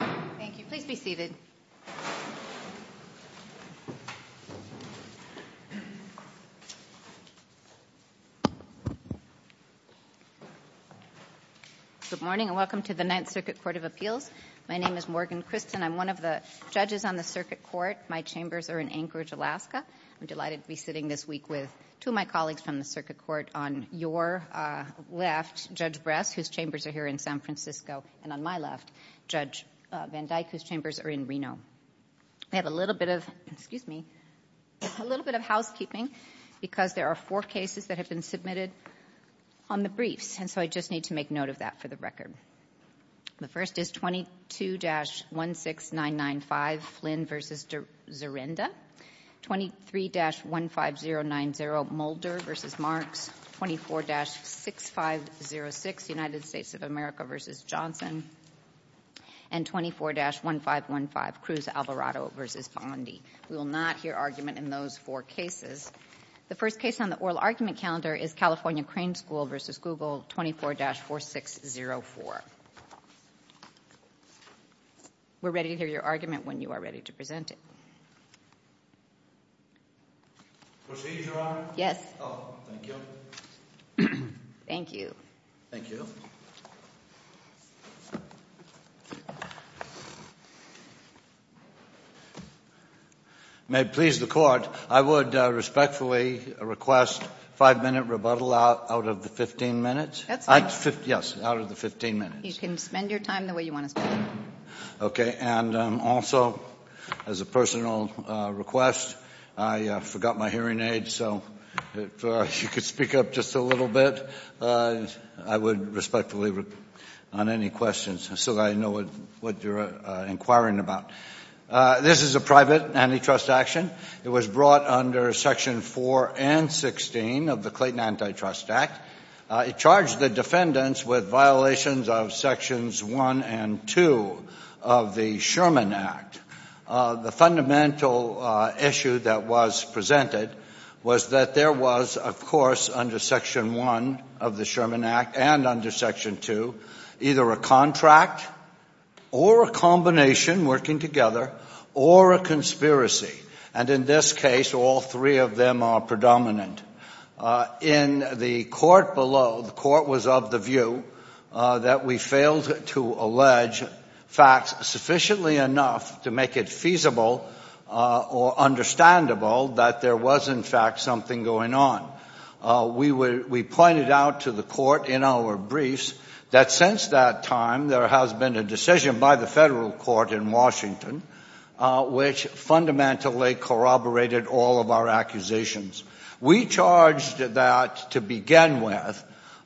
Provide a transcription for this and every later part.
Good morning and welcome to the Ninth Circuit Court of Appeals. My name is Morgan Christen. I'm one of the judges on the circuit court. My chambers are in Anchorage, Alaska. I'm delighted to be sitting this week with two of my colleagues from the circuit court. On your left, Judge Bress, whose chambers are here in San Francisco, and on my left, Judge Van Dyke, whose chambers are in Reno. I have a little bit of housekeeping because there are four cases that have been submitted on the briefs, and so I just need to make note of that for the record. The first is 22-16995, Flynn v. Zarenda. 23-15090, Mulder v. Marks. 24-6506, United States of America v. Johnson. And 24-1515, Cruz Alvarado v. Bondi. We will not hear argument in those four cases. The first case on the oral argument calendar is California Crane School v. Google, 24-4604. We're ready to hear your argument when you are ready to present it. Proceed, Your Honor. Yes. Oh, thank you. Thank you. Thank you. May it please the court, I would respectfully request five-minute rebuttal out of the 15 minutes. That's fine. Yes, out of the 15 minutes. You can spend your time the way you want to spend it. Okay, and also, as a personal request, I forgot my hearing aids, so if you could speak up just a little bit, I would respectfully, on any questions, so that I know what you're inquiring about. This is a private antitrust action. It was brought under Section 4 and 16 of the Clayton Antitrust Act. It charged the defendants with violations of Sections 1 and 2 of the Sherman Act. The fundamental issue that was presented was that there was, of course, under Section 1 of the Sherman Act and under Section 2, either a contract or a combination working together or a conspiracy. And in this case, all three of them are predominant. In the court below, the court was of the view that we failed to allege facts sufficiently enough to make it feasible or understandable that there was, in fact, something going on. We pointed out to the court in our briefs that since that time, there has been a decision by the federal court in Washington which fundamentally corroborated all of our accusations. We charged that, to begin with,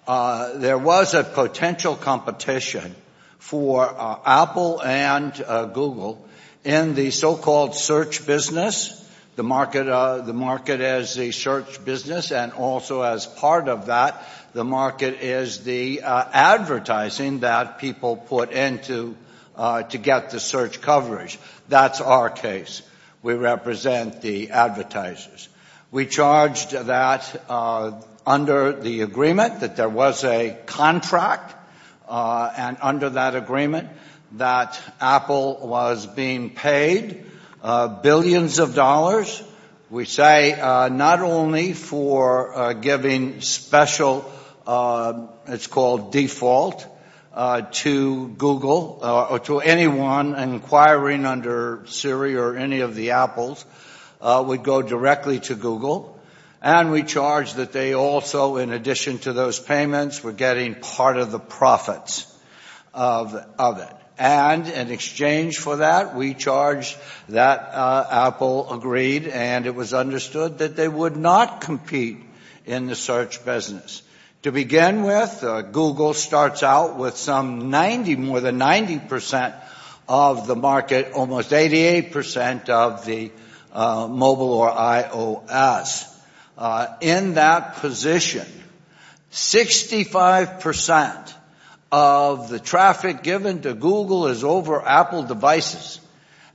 there was a potential competition for Apple and Google in the so-called search business. The market is the search business, and also as part of that, the market is the advertising that people put into to get the search coverage. That's our case. We represent the advertisers. We charged that under the agreement that there was a contract and under that agreement that Apple was being paid billions of dollars, we say, not only for giving special, it's called default, to Google or to anyone inquiring under Siri or any of the Apples, would go directly to Google. And we charged that they also, in addition to those payments, were getting part of the profits of it. And in exchange for that, we charged that Apple agreed and it was understood that they would not compete in the search business. To begin with, Google starts out with some 90, more than 90% of the market, almost 88% of the mobile or iOS. In that position, 65% of the traffic given to Google is over Apple devices.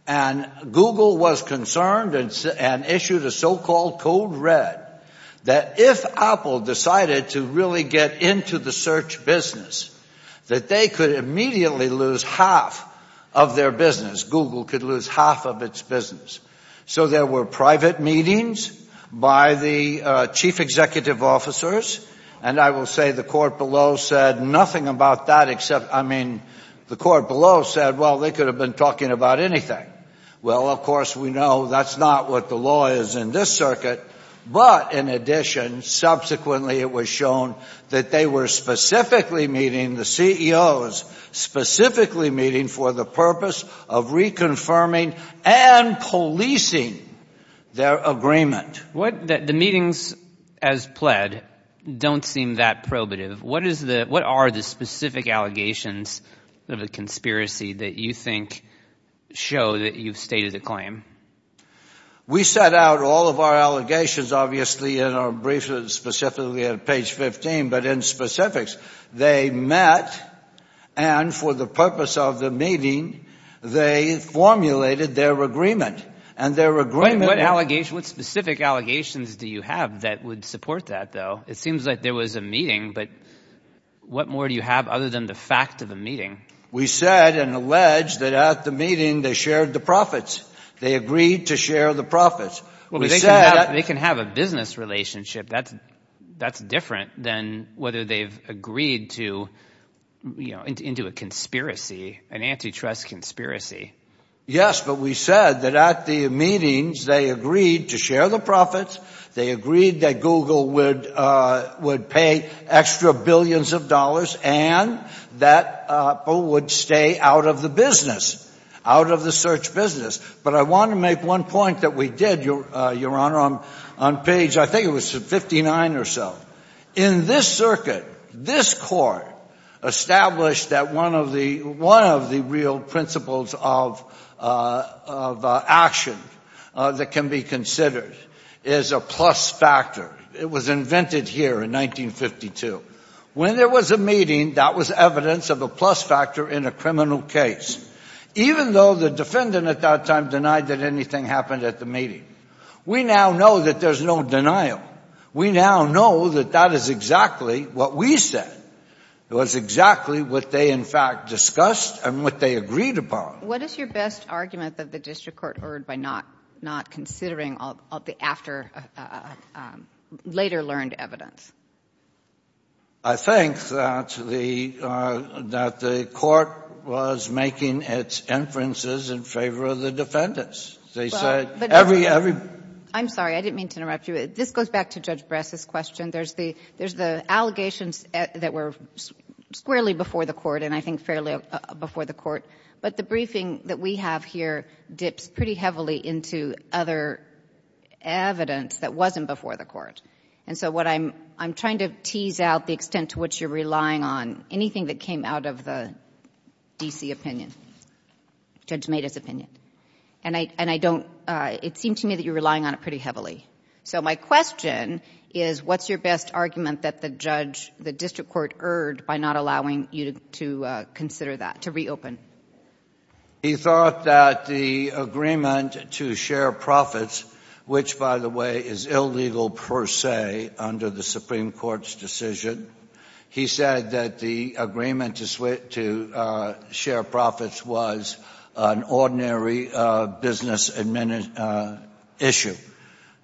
And Google was concerned and issued a so-called code red that if Apple decided to really get into the search business, that they could immediately lose half of their business. Google could lose half of its business. So there were private meetings by the chief executive officers. And I will say the court below said nothing about that except, I mean, the court below said, well, they could have been talking about anything. Well, of course, we know that's not what the law is in this circuit. But in addition, subsequently it was shown that they were specifically meeting, the CEOs, specifically meeting for the purpose of reconfirming and policing their agreement. The meetings as pled don't seem that probative. What are the specific allegations of a conspiracy that you think show that you've stated a claim? We set out all of our allegations, obviously, in our briefs, specifically at page 15. But in specifics, they met. And for the purpose of the meeting, they formulated their agreement and their agreement. What specific allegations do you have that would support that, though? It seems like there was a meeting. But what more do you have other than the fact of the meeting? We said and alleged that at the meeting they shared the profits. They agreed to share the profits. Well, they said they can have a business relationship. That's that's different than whether they've agreed to, you know, into a conspiracy, an antitrust conspiracy. Yes. But we said that at the meetings, they agreed to share the profits. They agreed that would pay extra billions of dollars and that would stay out of the business, out of the search business. But I want to make one point that we did, Your Honor, on page I think it was 59 or so. In this circuit, this court established that one of the one of the real principles of action that can be considered is a plus factor. It was invented here in 1952. When there was a meeting, that was evidence of a plus factor in a criminal case, even though the defendant at that time denied that anything happened at the meeting. We now know that there's no denial. We now know that that is exactly what we said. It was exactly what they, in fact, discussed and what they agreed upon. What is your best argument that the district court heard by not not considering all of the after later learned evidence? I think that the that the court was making its inferences in favor of the defendants. They said every every I'm sorry. I didn't mean to interrupt you. This goes back to Judge Bress's question. There's the there's the allegations that were squarely before the court and I think fairly before the court. But the briefing that we have here dips pretty heavily into other evidence that wasn't before the court. And so what I'm I'm trying to tease out the extent to which you're relying on anything that came out of the D.C. opinion, Judge Maida's opinion. And I and I don't it seemed to me that you're relying on it pretty heavily. So my question is what's your best argument that the judge the district court heard by not allowing you to consider that to reopen? He thought that the agreement to share profits, which, by the way, is illegal per se under the Supreme Court's decision. He said that the agreement to switch to share profits was an ordinary business and minute issue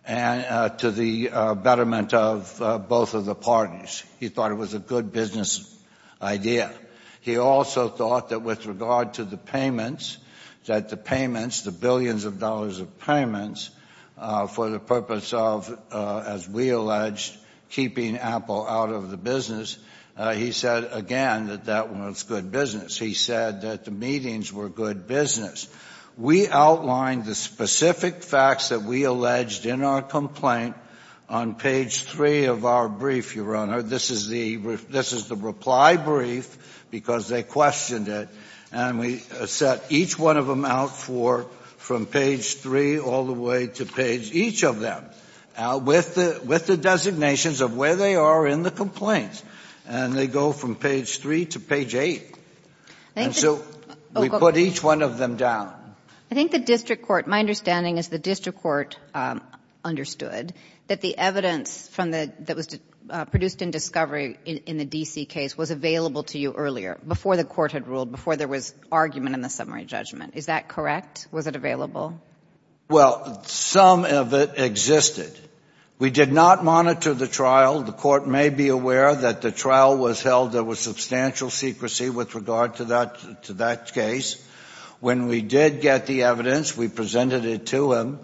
and to the betterment of both of the parties. He thought it was a good business idea. He also thought that with regard to the payments that the payments, the billions of dollars of payments for the purpose of, as we alleged, keeping Apple out of the business, he said again that that was good business. He said that the meetings were good business. We outlined the specific facts that we alleged in our complaint on page three of our brief, Your Honor. This is the reply brief because they questioned it. And we set each one of them out for from page three all the way to page each of them with the designations of where they are in the complaints. And they go from page three to page eight. And so we put each one of them down. I think the district court my understanding is the district court understood that the evidence from the that was produced in discovery in the D.C. case was available to you earlier before the court had ruled before there was argument in the summary judgment. Is that correct? Was it available? Well, some of it existed. We did not monitor the trial. The court may be aware that the trial was held. There was substantial secrecy with regard to that to that case. When we did get the evidence, we presented it to him.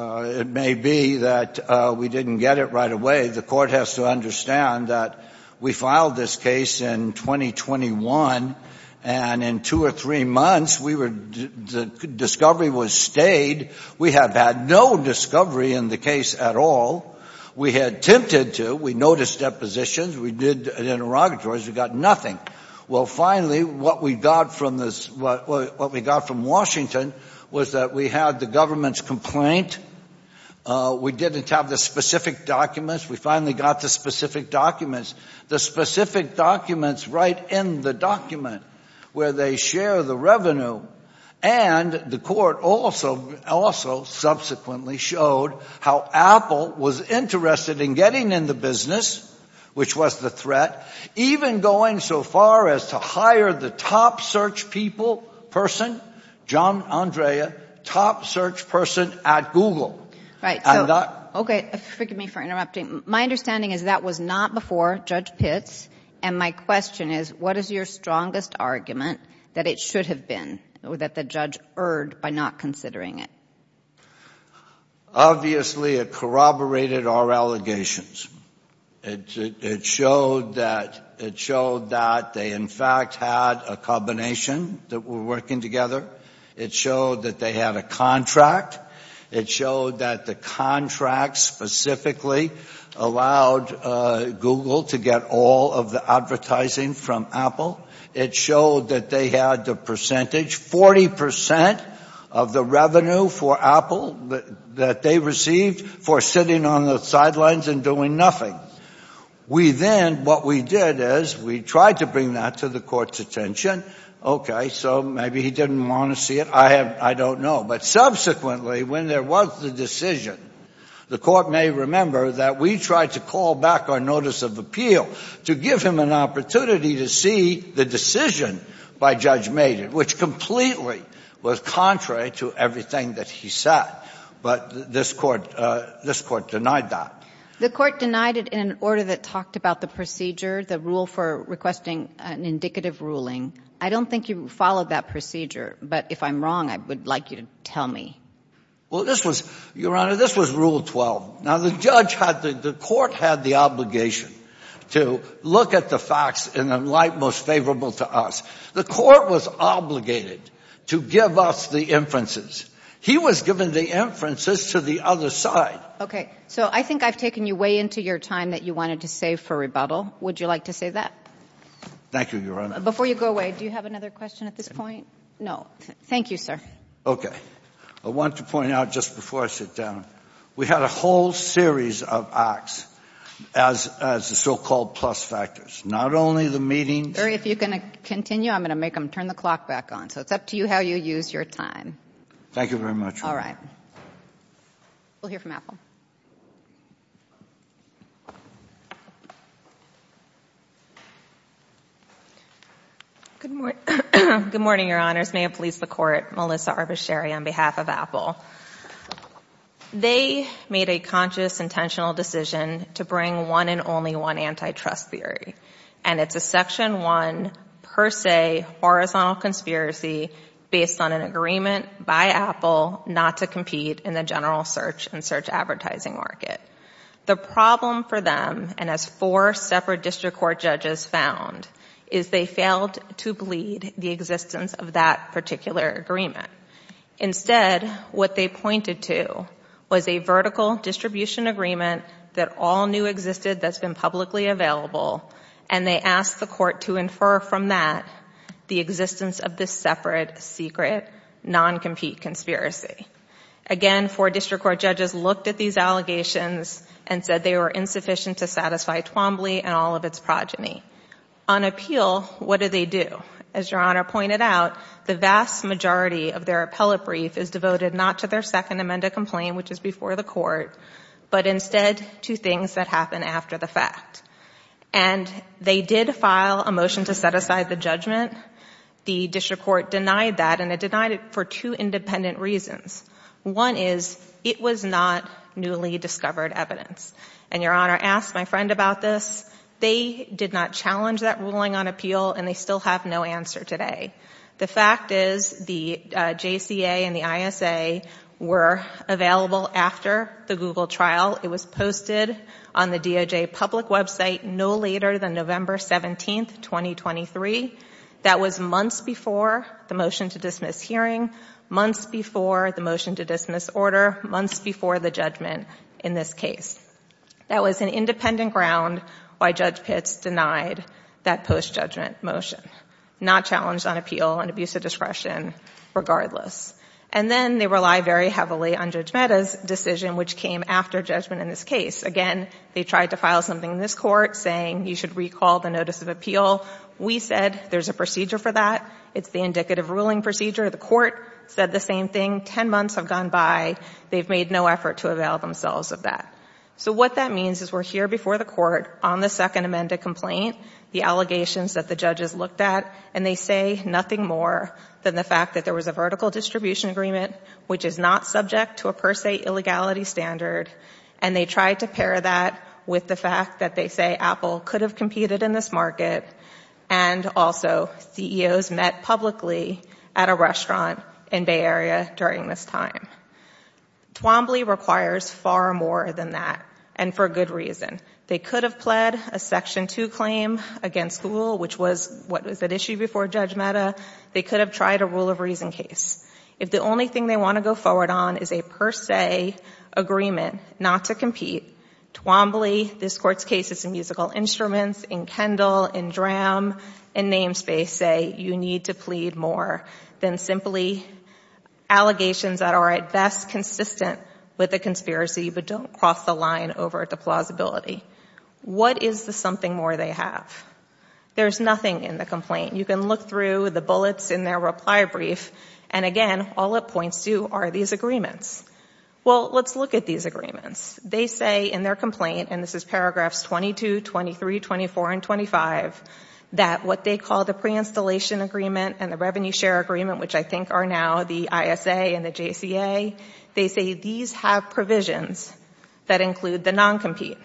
It may be that we didn't get it right away. The court has to understand that we filed this case in 2021. And in two or three months, we were the discovery was stayed. We have had no discovery in the case at all. We had attempted to. We noticed depositions. We did interrogatories. We got nothing. Well, finally, what we got from this, what we got from Washington was that we had the government's complaint. We didn't have the specific documents. We finally got the specific documents, the specific documents right in the document where they share the revenue. And the court also also subsequently showed how Apple was interested in getting in the business, which was the threat, even going so far as to hire the top search people person, John Andrea, top search person at Google. Right. OK. Forgive me for interrupting. My understanding is that was not before Judge Pitts. And my question is, what is your strongest argument that it should have been that the judge erred by not considering it? Obviously, it corroborated our allegations. It showed that it showed that they in fact had a combination that we're working together. It showed that they had a contract. It showed that the contract specifically allowed Google to get all of the advertising from Apple. It showed that they had the percentage, 40 percent of the revenue for Apple that they received for sitting on the sidelines and doing nothing. We then what we did is we tried to bring that to the court's attention. OK, so maybe he didn't want to see it. I have I don't know. But subsequently, when there was the decision, the court may remember that we tried to call back our notice of appeal to give him an opportunity to see the decision by Judge Mayden, which completely was contrary to everything that he said. But this court this court denied that. The court denied it in an order that talked about the procedure, the rule for requesting an indicative ruling. I don't think you followed that procedure. But if I'm wrong, I would like you to tell me. Well, this was, Your Honor, this was Rule 12. Now, the judge had the court had the obligation to look at the facts in a light most favorable to us. The court was obligated to give us the inferences. He was given the inferences to the other side. OK, so I think I've taken you way into your time that you wanted to save for rebuttal. Would you like to say that? Thank you, Your Honor. Before you go away, do you have another question at this point? No. Thank you, sir. OK, I want to point out just before I sit down, we had a whole series of acts as as the so-called plus factors, not only the meeting. If you can continue, I'm going to make them turn the clock back on. So it's up to you how you use your time. Thank you very much. All right. We'll hear from Apple. Good morning. Good morning, Your Honors. May it please the court. Melissa Arbuscheri on behalf of Apple. They made a conscious, intentional decision to bring one and only one antitrust theory. And it's a Section 1 per se horizontal conspiracy based on an agreement by Apple not to compete in the general search and search advertising market. The problem for them, and as four separate district court judges found, is they failed to bleed the existence of that particular agreement. Instead, what they pointed to was a vertical distribution agreement that all knew existed that's been publicly available, and they asked the court to infer from that the existence of this separate, secret, non-compete conspiracy. Again, four district court judges looked at these allegations and said they were insufficient to satisfy Twombly and all of its progeny. On appeal, what do they do? As Your Honor pointed out, the vast majority of their appellate brief is devoted not to their second amendment complaint, which is before the court, but instead to things that happen after the fact. And they did file a motion to set aside the judgment. The district court denied that, and it denied it for two independent reasons. One is it was not newly discovered evidence. And Your Honor asked my friend about this. They did not challenge that ruling on appeal, and they still have no answer today. The fact is the JCA and the ISA were available after the Google trial. It was posted on the DOJ public website no later than November 17, 2023. That was months before the motion to dismiss hearing, months before the motion to dismiss order, months before the judgment in this case. That was an independent ground why Judge Pitts denied that post-judgment motion, not challenged on appeal and abuse of discretion regardless. And then they rely very heavily on Judge Mehta's decision, which came after judgment in this case. Again, they tried to file something in this court saying you should recall the notice of appeal. We said there's a procedure for that. It's the indicative ruling procedure. The court said the same thing. Ten months have gone by. They've made no effort to avail themselves of that. So what that means is we're here before the court on the second amended complaint, the allegations that the judges looked at, and they say nothing more than the fact that there was a vertical distribution agreement, which is not subject to a per se illegality standard, and they tried to pair that with the fact that they say Apple could have competed in this market, and also CEOs met publicly at a restaurant in Bay Area during this time. Twombly requires far more than that, and for good reason. They could have pled a Section 2 claim against Google, which was what was at issue before Judge Mehta. They could have tried a rule of reason case. If the only thing they want to go forward on is a per se agreement not to compete, Twombly, this court's case is in musical instruments, in Kendall, in DRAM, in namespace, say you need to plead more than simply allegations that are at best consistent with the conspiracy but don't cross the line over at the plausibility. What is the something more they have? There's nothing in the complaint. You can look through the bullets in their reply brief, and again, all it points to are these agreements. Well, let's look at these agreements. They say in their complaint, and this is paragraphs 22, 23, 24, and 25, that what they call the pre-installation agreement and the revenue share agreement, which I think are now the ISA and the JCA, they say these have provisions that include the non-compete.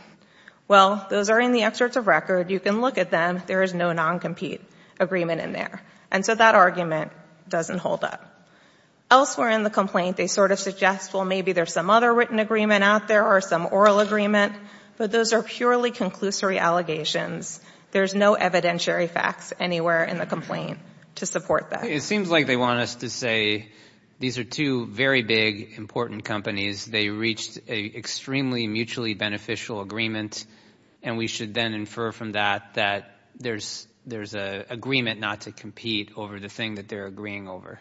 Well, those are in the excerpts of record. You can look at them. There is no non-compete agreement in there, and so that argument doesn't hold up. Elsewhere in the complaint, they sort of suggest, well, maybe there's some other written agreement out there or some oral agreement, but those are purely conclusory allegations. There's no evidentiary facts anywhere in the complaint to support that. It seems like they want us to say these are two very big, important companies. They reached an extremely mutually beneficial agreement, and we should then infer from that that there's an agreement not to compete over the thing that they're agreeing over.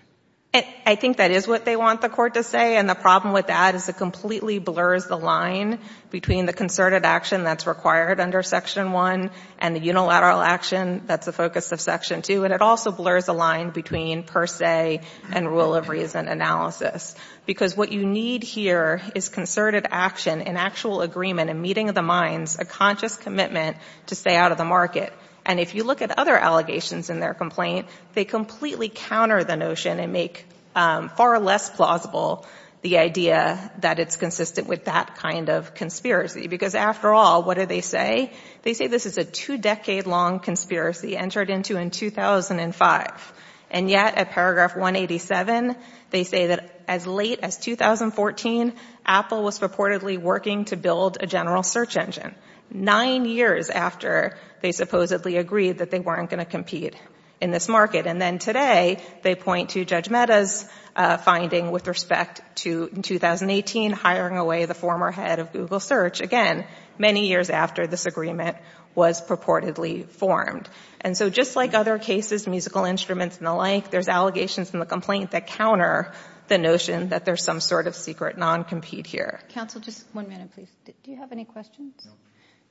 I think that is what they want the Court to say, and the problem with that is it completely blurs the line between the concerted action that's required under Section 1 and the unilateral action that's the focus of Section 2, and it also blurs the line between per se and rule of reason analysis. Because what you need here is concerted action, an actual agreement, a meeting of the minds, a conscious commitment to stay out of the market. And if you look at other allegations in their complaint, they completely counter the notion and make far less plausible the idea that it's consistent with that kind of conspiracy. Because after all, what do they say? They say this is a two-decade-long conspiracy entered into in 2005, and yet at paragraph 187, they say that as late as 2014, Apple was purportedly working to build a general search engine, nine years after they supposedly agreed that they weren't going to compete in this market. And then today, they point to Judge Mehta's finding with respect to 2018, hiring away the former head of Google Search, again, many years after this agreement was purportedly formed. And so just like other cases, musical instruments and the like, there's allegations in the complaint that counter the notion that there's some sort of secret non-compete here. Counsel, just one minute, please. Do you have any questions? No. Do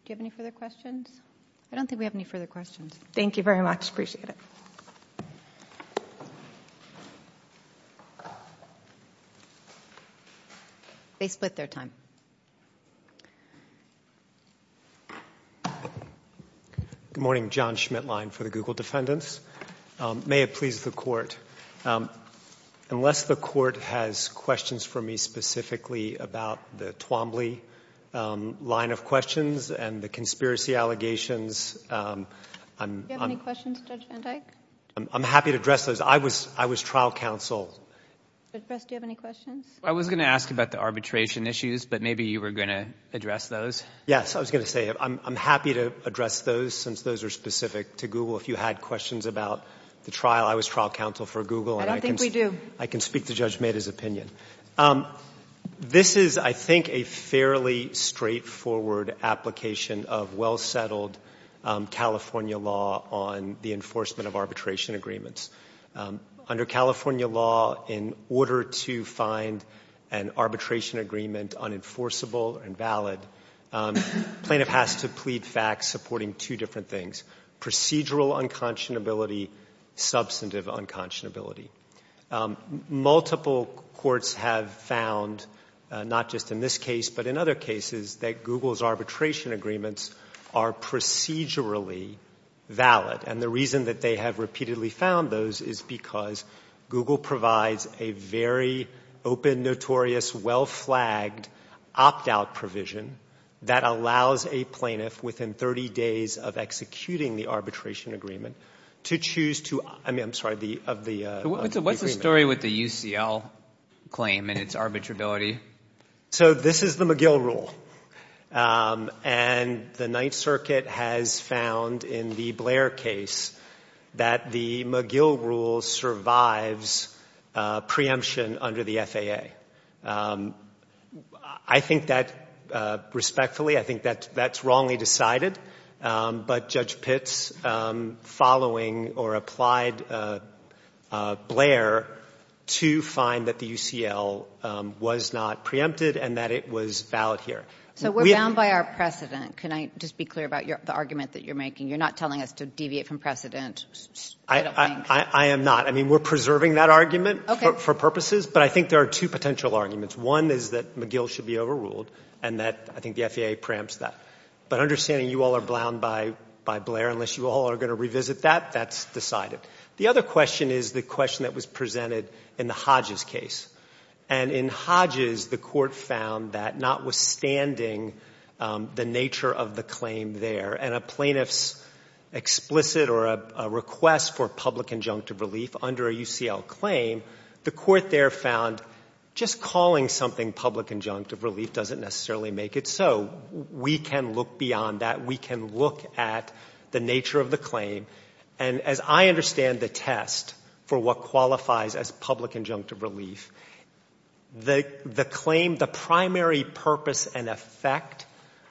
you have any further questions? I don't think we have any further questions. Thank you very much. Appreciate it. They split their time. Good morning. John Schmitlein for the Google Defendants. May it please the Court. Unless the Court has questions for me specifically about the Twombly line of questions and the conspiracy allegations, I'm— Do you have any questions, Judge Van Dyke? I'm happy to address those. I was trial counsel. Judge Brest, do you have any questions? I was going to ask about the arbitration issues. But maybe you were going to address those. Yes, I was going to say I'm happy to address those since those are specific to Google. If you had questions about the trial, I was trial counsel for Google. I don't think we do. I can speak to Judge Maida's opinion. This is, I think, a fairly straightforward application of well-settled California law on the enforcement of arbitration agreements. Under California law, in order to find an arbitration agreement unenforceable and valid, plaintiff has to plead facts supporting two different things, procedural unconscionability, substantive unconscionability. Multiple courts have found, not just in this case but in other cases, that Google's arbitration agreements are procedurally valid. And the reason that they have repeatedly found those is because Google provides a very open, notorious, well-flagged opt-out provision that allows a plaintiff within 30 days of executing the arbitration agreement to choose to, I mean, I'm sorry, of the agreement. What's the story with the UCL claim and its arbitrability? So this is the McGill rule. And the Ninth Circuit has found in the Blair case that the McGill rule survives preemption under the FAA. I think that respectfully, I think that that's wrongly decided. But Judge Pitts following or applied Blair to find that the UCL was not preempted and that it was valid here. So we're bound by our precedent. Can I just be clear about the argument that you're making? You're not telling us to deviate from precedent, I don't think. I am not. I mean, we're preserving that argument for purposes, but I think there are two potential arguments. One is that McGill should be overruled and that I think the FAA preempts that. But understanding you all are bound by Blair, unless you all are going to revisit that, that's decided. The other question is the question that was presented in the Hodges case. And in Hodges, the court found that notwithstanding the nature of the claim there and a plaintiff's explicit or a request for public injunctive relief under a UCL claim, the court there found just calling something public injunctive relief doesn't necessarily make it so. We can look beyond that. We can look at the nature of the claim. And as I understand the test for what qualifies as public injunctive relief, the claim, the primary purpose and effect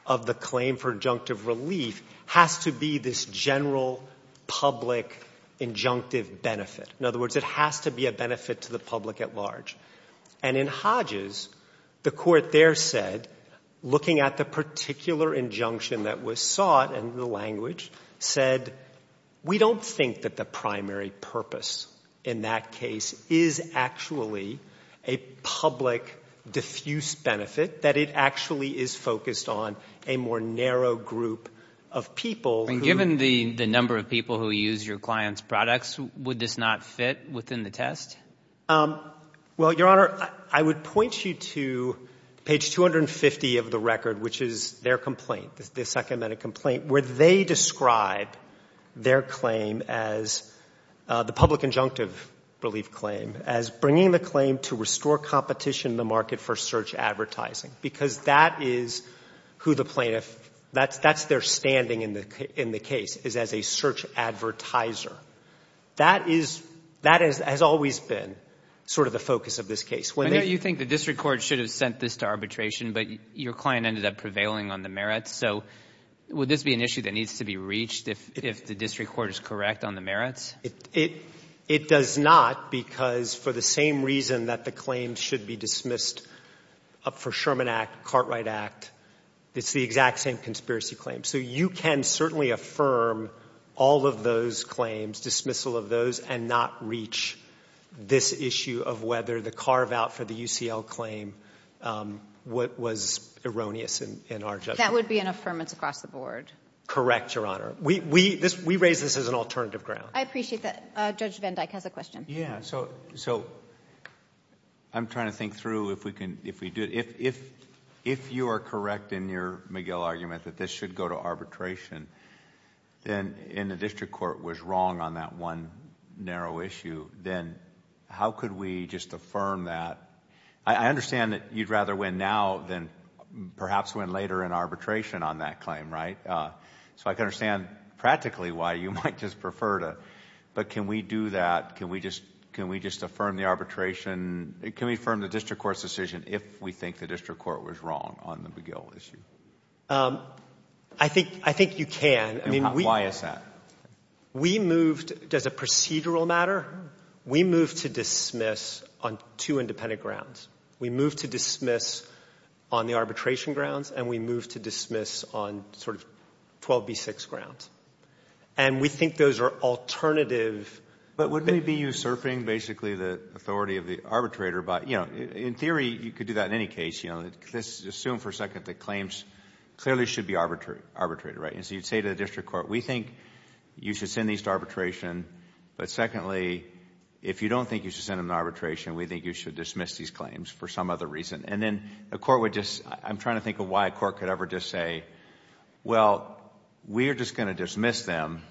of the claim for injunctive relief has to be this general public injunctive benefit. In other words, it has to be a benefit to the public at large. And in Hodges, the court there said, looking at the particular injunction that was sought and the language said, we don't think that the primary purpose in that case is actually a public diffuse benefit, that it actually is focused on a more narrow group of people. And given the number of people who use your client's products, would this not fit within the test? Well, Your Honor, I would point you to page 250 of the record, which is their complaint, the second medical complaint, where they describe their claim as, the public injunctive relief claim, as bringing the claim to restore competition in the market for search advertising. Because that is who the plaintiff, that's their standing in the case, is as a search advertiser. That has always been sort of the focus of this case. I know you think the district court should have sent this to arbitration, but your client ended up prevailing on the merits. So, would this be an issue that needs to be reached if the district court is correct on the merits? It does not, because for the same reason that the claim should be dismissed up for Sherman Act, Cartwright Act, it's the exact same conspiracy claim. So, you can certainly affirm all of those claims, dismissal of those, and not reach this issue of whether the carve-out for the UCL claim was erroneous in our judgment. That would be an affirmance across the board? Correct, Your Honor. We raise this as an alternative ground. I appreciate that. Judge Van Dyck has a question. So, I'm trying to think through if we do... if you are correct in your McGill argument that this should go to arbitration, and the district court was wrong on that one narrow issue, then how could we just affirm that? I understand that you'd rather win now than perhaps win later in arbitration on that claim, right? So, I can understand practically why you might just prefer to... but can we do that? Can we just affirm the arbitration... can we affirm the district court's decision if we think the district court was wrong on the McGill issue? I think you can. Why is that? We moved... as a procedural matter, we moved to dismiss on two independent grounds. We moved to dismiss on the arbitration grounds, and we moved to dismiss on sort of 12B6 grounds. And we think those are alternative... But wouldn't it be usurping, basically, the authority of the arbitrator? But, you know, in theory, you could do that in any case, you know. Let's assume for a second that claims clearly should be arbitrated, right? And so you'd say to the district court, we think you should send these to arbitration, but secondly, if you don't think you should send them to arbitration, we think you should dismiss these claims for some other reason. And then the court would just... I'm trying to think of why a court could ever just say, well, we're just going to dismiss them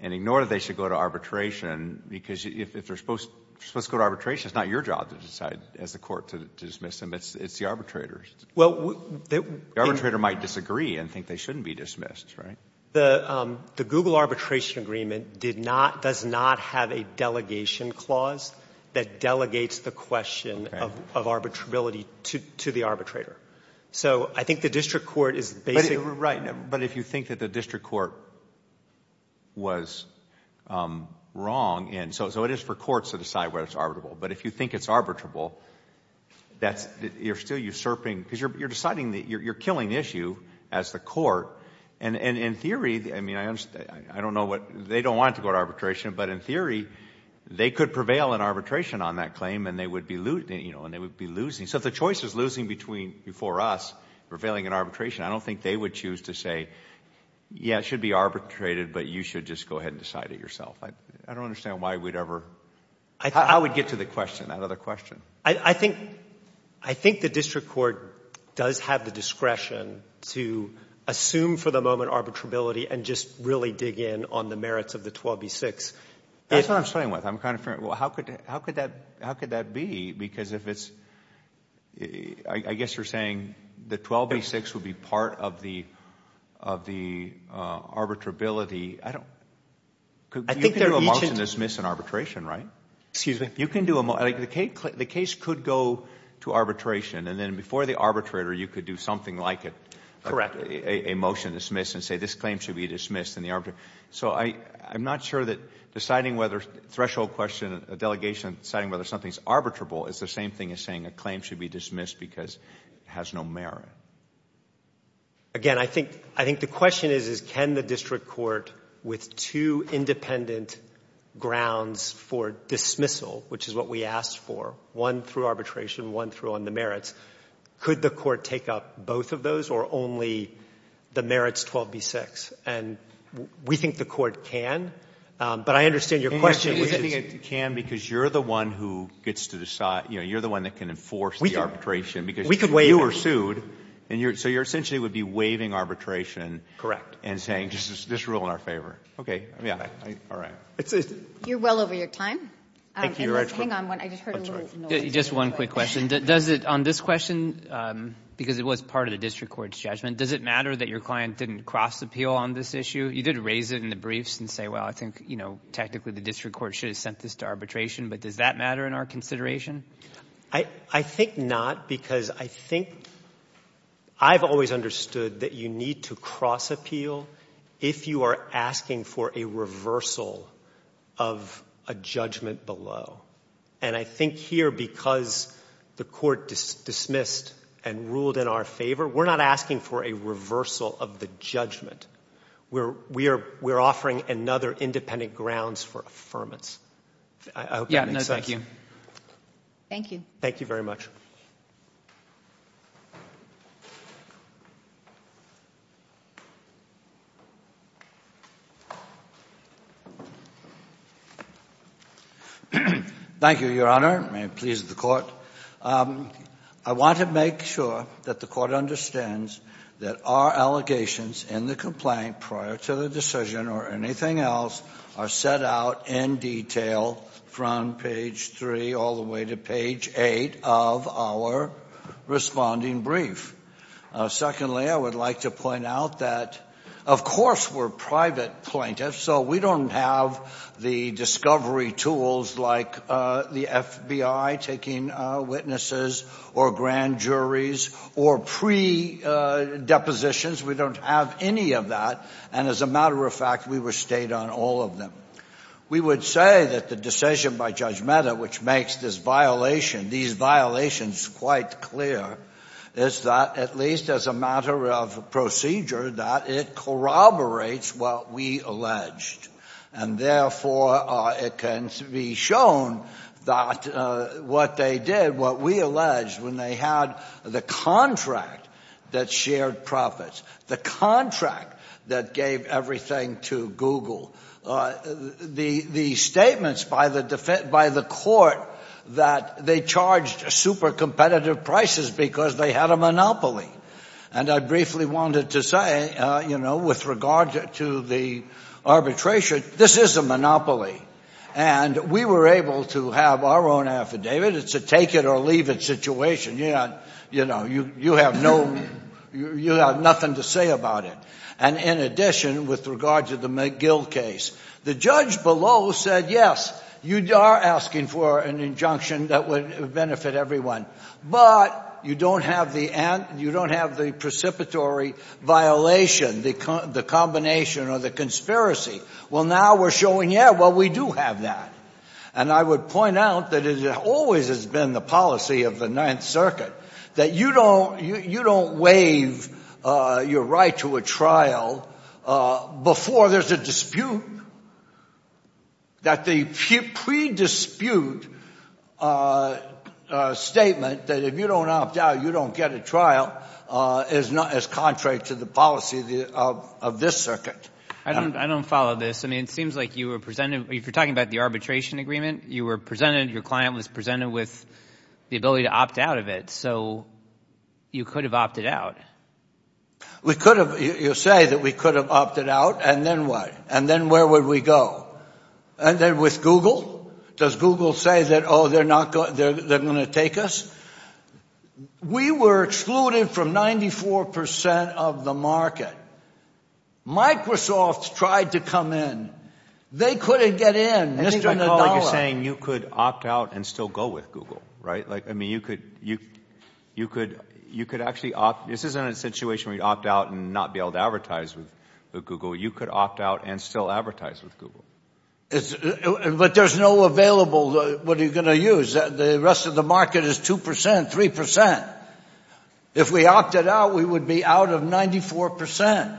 and ignore that they should go to arbitration because if they're supposed to go to arbitration, it's not your job to decide as a court to dismiss them, it's the arbitrator's. The arbitrator might disagree and think they shouldn't be dismissed, right? The Google arbitration agreement does not have a delegation clause that delegates the question of arbitrability to the arbitrator. So I think the district court is basically... Right, but if you think that the district court was wrong... So it is for courts to decide whether it's arbitrable, but if you think it's arbitrable, you're still usurping... because you're deciding... you're killing issue as the court. And in theory, I mean, I don't know what... they don't want to go to arbitration, but in theory, they could prevail in arbitration on that claim and they would be losing. So if the choice is losing before us, prevailing in arbitration, I don't think they would choose to say, yeah, it should be arbitrated, but you should just go ahead and decide it yourself. I don't understand why we'd ever... How would we get to the question, that other question? I think the district court does have the discretion to assume for the moment arbitrability and just really dig in on the merits of the 12b-6. That's what I'm struggling with. I'm kind of... well, how could that be? Because if it's... I guess you're saying the 12b-6 would be part of the arbitrability. I don't... You can do a motion to dismiss in arbitration, right? Excuse me? You can do a... the case could go to arbitration, and then before the arbitrator, you could do something like it. Correct. A motion to dismiss and say this claim should be dismissed in the arbitration. So I'm not sure that deciding whether threshold question, a delegation deciding whether something is arbitrable is the same thing as saying a claim should be dismissed because it has no merit. Again, I think the question is can the district court with two independent grounds for dismissal, which is what we asked for, one through arbitration, one through on the merits, could the court take up both of those or only the merits 12b-6? And we think the court can, but I understand your question... You think it can because you're the one who gets to decide. You're the one that can enforce the arbitration because... So you're essentially would be waiving arbitration...... and saying just rule in our favor. Okay. All right. You're well over your time. Hang on. I just heard a little noise. Just one quick question. On this question, because it was part of the district court's judgment, does it matter that your client didn't cross appeal on this issue? You did raise it in the briefs and say, well, I think technically the district court should have sent this to arbitration, but does that matter in our consideration? I think not because I think I've always understood that you need to cross appeal if you are asking for a reversal of a judgment below. And I think here, because the court dismissed and ruled in our favor, we're not asking for a reversal of the judgment. We're offering another independent grounds for affirmance. I hope that makes sense. Yeah. Thank you. Thank you very much. Thank you, Your Honor. May it please the court. I want to make sure that the court understands that our allegations in the complaint prior to the decision or anything else are set out in detail from page three all the way to page eight of our responding brief. Secondly, I would like to point out that, of course, we're private plaintiffs, so we don't have the discovery tools like the FBI taking witnesses or grand juries or pre-depositions. We don't have any of that. And as a matter of fact, we were stayed on all of them. We would say that the decision by Judge Mehta, which makes this violation, these violations, quite clear, is that at least as a matter of procedure that it corroborates what we alleged. And therefore, it can be shown that what they did, what we alleged, when they had the contract that shared profits, the contract that gave everything to Google, the statements by the court that they charged super competitive prices because they had a monopoly. And I briefly wanted to say, you know, with regard to the arbitration, this is a monopoly. And we were able to have our own affidavit. It's a take it or leave it situation. You know, you have nothing to say about it. And in addition, with regard to the McGill case, the judge below said, yes, you are asking for an injunction that would benefit everyone. But you don't have the precipitory violation, the combination or the conspiracy. Well, now we're showing, yeah, well, we do have that. And I would point out that it always has been the policy of the Ninth Circuit that you don't waive your right to a trial before there's a dispute, that the pre-dispute statement that if you don't opt out, you don't get a trial, is contrary to the policy of this circuit. I don't follow this. I mean, it seems like you were presented, if you're talking about the arbitration agreement, you were presented, your client was presented with the ability to opt out of it. So you could have opted out. We could have. You say that we could have opted out. And then what? And then where would we go? And then with Google? Does Google say that, oh, they're not going to take us? We were excluded from 94 percent of the market. Microsoft tried to come in. They couldn't get in, not even a dollar. You're saying you could opt out and still go with Google, right? Like, I mean, you could actually opt. This isn't a situation where you'd opt out and not be able to advertise with Google. You could opt out and still advertise with Google. But there's no available, what are you going to use? The rest of the market is 2 percent, 3 percent. If we opted out, we would be out of 94 percent.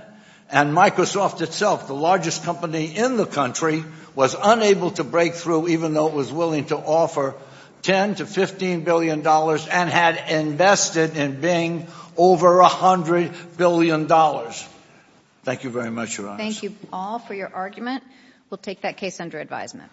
And Microsoft itself, the largest company in the country, was unable to break through even though it was willing to offer $10 to $15 billion and had invested in Bing over $100 billion. Thank you very much, Your Honors. Thank you all for your argument. We'll take that case under advisement.